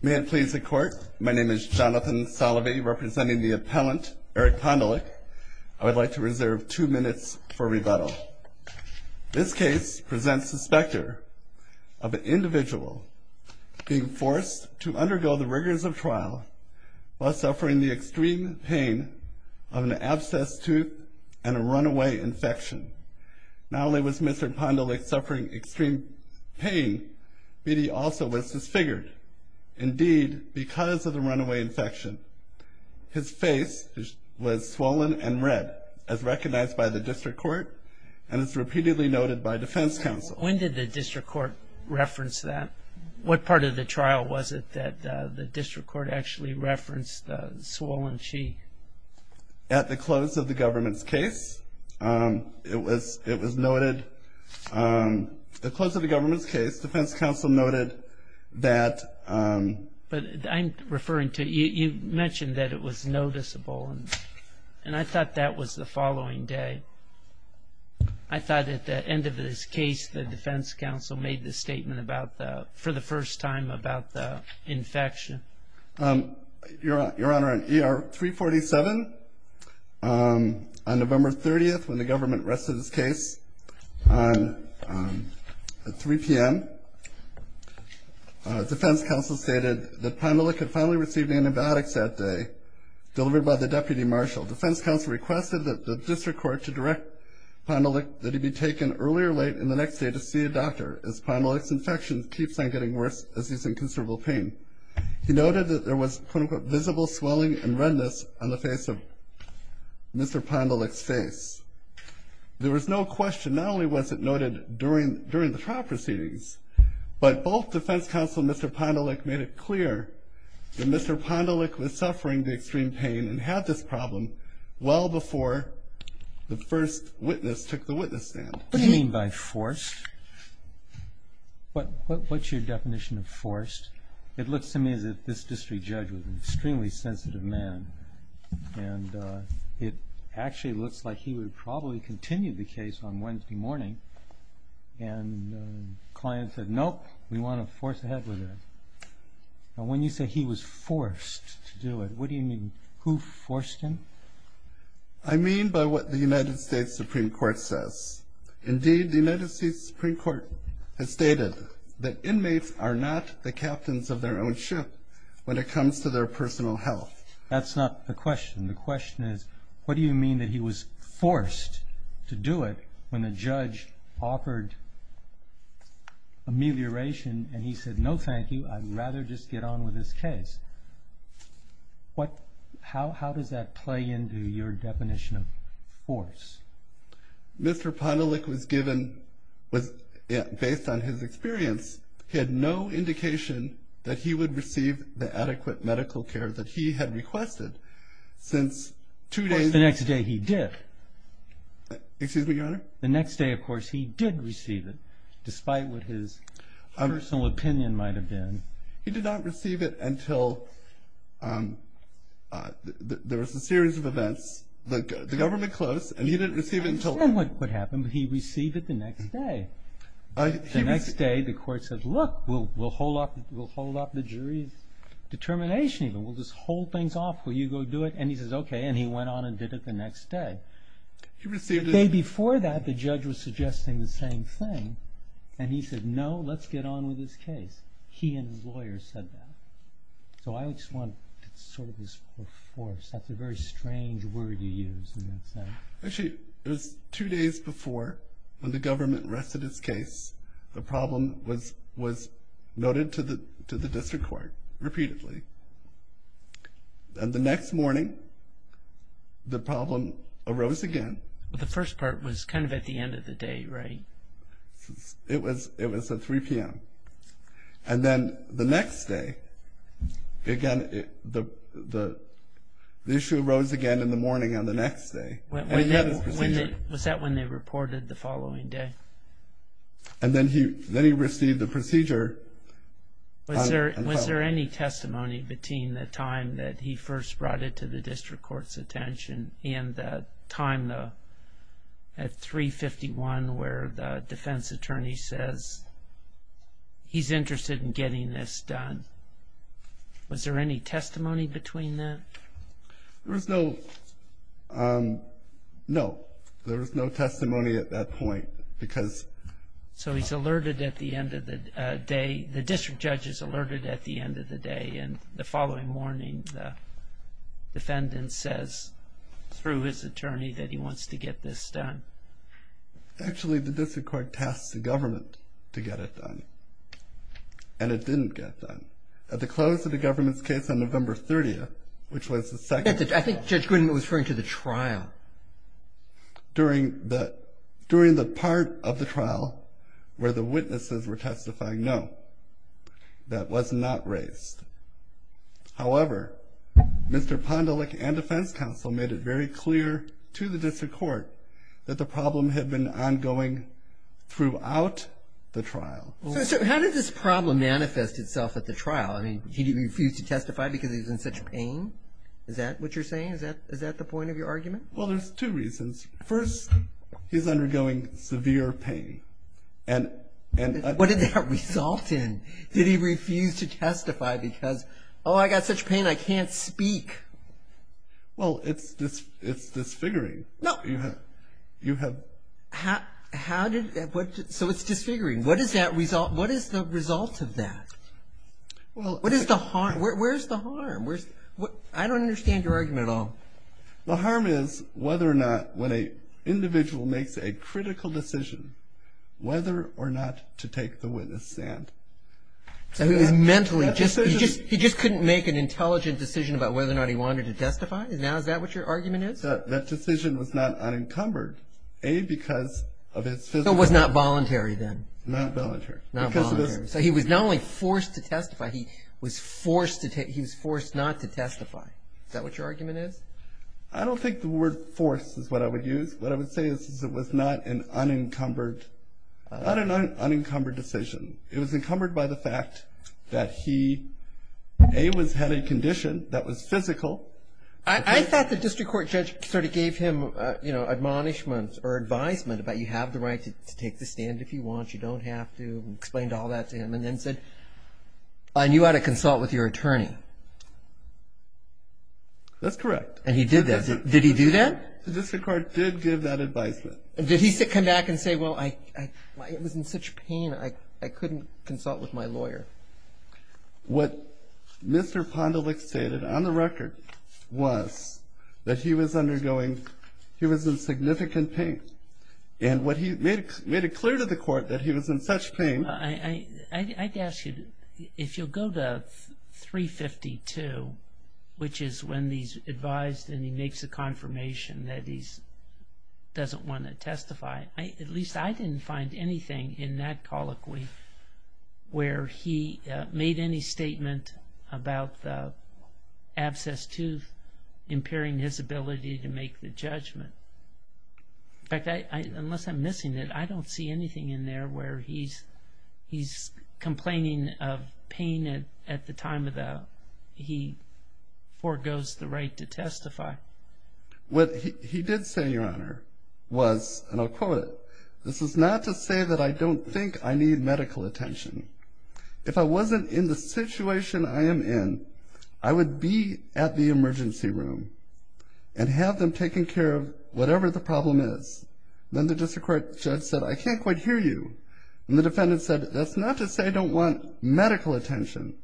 May it please the court, my name is Jonathan Salovey representing the appellant Eric Pondelick. I would like to reserve two minutes for rebuttal. This case presents the specter of an individual being forced to undergo the rigors of trial while suffering the extreme pain of an abscessed tooth and a runaway infection. Not only was Mr. Pondelick suffering extreme pain, but he also was disfigured. Indeed, because of the runaway infection his face was swollen and red as recognized by the district court and it's repeatedly noted by defense counsel. When did the district court reference that? What part of the trial was it that the district court actually referenced the swollen sheath? At the close of the government's case it was it was noted the close of the government's case defense counsel noted that. But I'm referring to you mentioned that it was noticeable and and I thought that was the following day. I thought at the end of this case the defense counsel made the statement about the for the first time about the infection. Your honor on ER 347 on 3 p.m. defense counsel stated that Pondelick had finally received antibiotics that day delivered by the deputy marshal. Defense counsel requested that the district court to direct Pondelick that he be taken earlier late in the next day to see a doctor as Pondelick's infection keeps on getting worse as he's in considerable pain. He noted that there was visible swelling and redness on the face of Mr. Pondelick's face. There was no question not only was it noted during the trial proceedings but both defense counsel Mr. Pondelick made it clear that Mr. Pondelick was suffering the extreme pain and had this problem well before the first witness took the witness stand. What do you mean by forced? What's your definition of forced? It looks to me as if this district judge was an extremely sensitive man and it actually looks like he would probably continue the case on client said nope we want to force ahead with it. Now when you say he was forced to do it what do you mean who forced him? I mean by what the United States Supreme Court says. Indeed the United States Supreme Court has stated that inmates are not the captains of their own ship when it comes to their personal health. That's not the question. The question is what do you mean that he was forced to do it when the judge offered amelioration and he said no thank you I'd rather just get on with this case. What how does that play into your definition of force? Mr. Pondelick was given was based on his experience he had no indication that he would receive the adequate medical care that he had requested since two days. The next day he did. The next day of course he did receive it despite what his personal opinion might have been. He did not receive it until there was a series of events the government closed and he didn't receive it until. I understand what happened but he received it the next day. The next day the court said look we'll hold off we'll hold off the jury's determination even we'll just hold things off will you go do it and he says okay and he went on and did it the next day. The day before that the judge was suggesting the same thing and he said no let's get on with this case. He and his lawyers said that. So I just want sort of this force that's a very strange word you use in that sense. Actually it was two days before when the government rested his and the next morning the problem arose again. The first part was kind of at the end of the day right? It was it was at 3 p.m. and then the next day again it the the issue arose again in the morning on the next day. Was that when they reported the following day? And then he then he received the procedure. Was there any testimony between the time that he first brought it to the district court's attention and the time though at 3 51 where the defense attorney says he's interested in getting this done. Was there any testimony between that? There was no no there was no testimony at that point because. So he's alerted at the end of the day the district judge is alerted at the end of the day and the following morning the defendant says through his attorney that he wants to get this done. Actually the district court tasked the government to get it done and it didn't get done. At the close of the government's case on November 30th which was the second. I think Judge Grindel was referring to the trial. During during the part of the trial where the witnesses were testifying no that was not raised. However Mr. Pondelick and defense counsel made it very clear to the district court that the problem had been ongoing throughout the trial. So how did this problem manifest itself at the trial? I mean he refused to testify because he's in such pain. Is that what you're saying? Is that is that the point of your argument? Well there's two reasons. First he's undergoing severe pain. What did that result in? Did he refuse to testify because oh I got such pain I can't speak. Well it's it's disfiguring. So it's disfiguring. What is that result what is the result of that? Well what is the harm Where's the harm? I don't understand your argument at all. The harm is whether or not when a individual makes a critical decision whether or not to take the witness stand. So he was mentally just he just he just couldn't make an intelligent decision about whether or not he wanted to testify? Now is that what your argument is? That decision was not unencumbered a because of his physical. So it was not voluntary then? Not voluntary. So he was not only forced to he was forced not to testify. Is that what your argument is? I don't think the word force is what I would use. What I would say is it was not an unencumbered not an unencumbered decision. It was encumbered by the fact that he a was had a condition that was physical. I thought the district court judge sort of gave him you know admonishments or advisement about you have the right to take the stand if you want you don't have to explained all that to him and then said I knew how to consult with your attorney. That's correct. And he did that. Did he do that? The district court did give that advisement. Did he come back and say well I was in such pain I couldn't consult with my lawyer? What Mr. Pondelix stated on the record was that he was undergoing he was in significant pain and what he made made it clear to the if you'll go to 352 which is when these advised and he makes a confirmation that he's doesn't want to testify. At least I didn't find anything in that colloquy where he made any statement about the abscess tooth impairing his ability to make the judgment. In fact, unless I'm missing it, I don't see anything in there where he's he's complaining of pain at at the time of that he forgoes the right to testify. What he did say your honor was and I'll quote it. This is not to say that I don't think I need medical attention. If I wasn't in the situation I am in, I would be at the emergency room and have them taken care of whatever the problem is. Then the district court judge said I can't quite hear you and the defendant said that's not to say I don't want medical attention.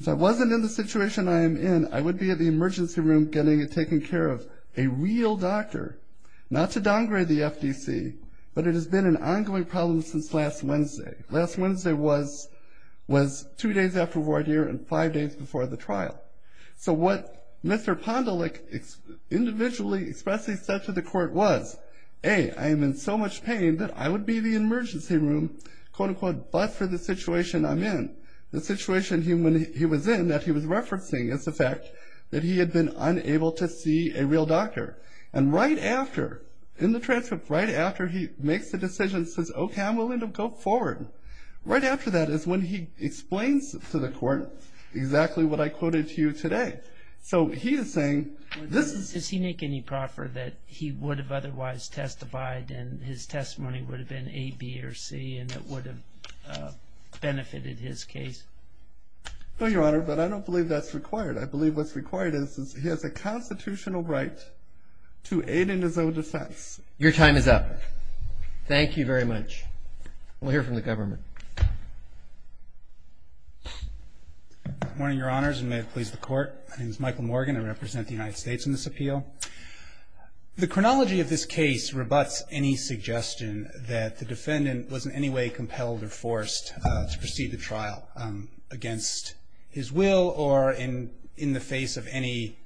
If I wasn't in the situation I am in, I would be at the emergency room getting it taken care of. A real doctor. Not to downgrade the FDC but it has been an ongoing problem since last Wednesday. Last Wednesday was was two days after voir dire and five days before the trial. So what Mr. Pondelix individually expressly said to the court was a I am in so much pain that I would be the emergency room quote-unquote but for the situation I'm in. The situation human he was in that he was referencing is the fact that he had been unable to see a real doctor and right after in the transfer right after he makes the decision says okay I'm willing to go forward. Right after that is when he explains to the court exactly what I quoted to you today. So he is saying this is. Does he make any proffer that he would have otherwise testified and his testimony would have been a B or C and it would have benefited his case? No your honor but I don't believe that's required. I believe what's required is he has a constitutional right to aid in his own defense. Your time is up. Thank you very much. We'll hear from the government. Morning your honors and may it please the court. My name is Michael Morgan. I represent the defendant was in any way compelled or forced to proceed the trial against his will or in in the face of any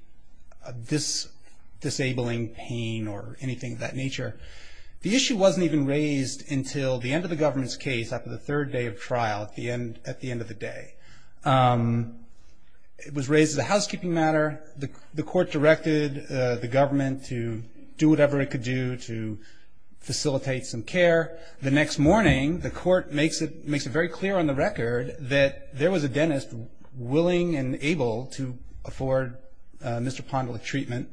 this disabling pain or anything of that nature. The issue wasn't even raised until the end of the government's case after the third day of trial at the end at the end of the day. It was raised as a housekeeping matter. The court directed the government to do whatever it could do to facilitate some care. The next morning the court makes it makes it very clear on the record that there was a dentist willing and able to afford Mr. Pondolek treatment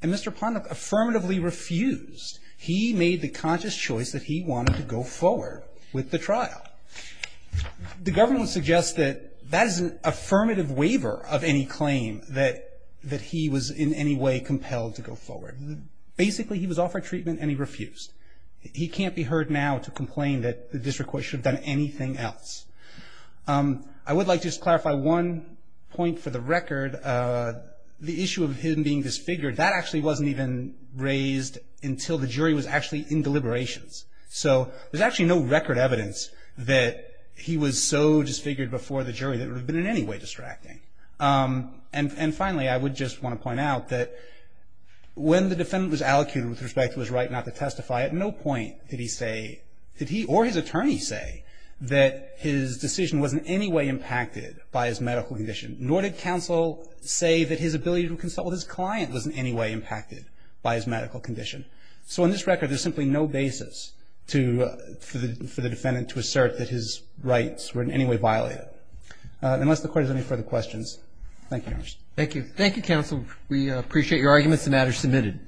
and Mr. Pondolek affirmatively refused. He made the conscious choice that he wanted to go forward with the trial. The government suggests that that is an affirmative waiver of any claim that that he was in anyway compelled to go forward. Basically he was offered treatment and he refused. He can't be heard now to complain that the district court should have done anything else. I would like to clarify one point for the record. The issue of him being disfigured that actually wasn't even raised until the jury was actually in deliberations. So there's actually no record evidence that he was so disfigured before the jury that it would have been in any way distracting. And finally I would just want to point out that when the defendant was allocuted with respect to his right not to testify, at no point did he say, did he or his attorney say that his decision was in any way impacted by his medical condition. Nor did counsel say that his ability to consult with his client was in any way impacted by his medical condition. So on this record there's simply no basis to, for the defendant to assert that his rights were in any way violated. Unless the court has any further questions. Thank you. Thank you. Thank you, counsel. We appreciate your arguments. The matter is submitted.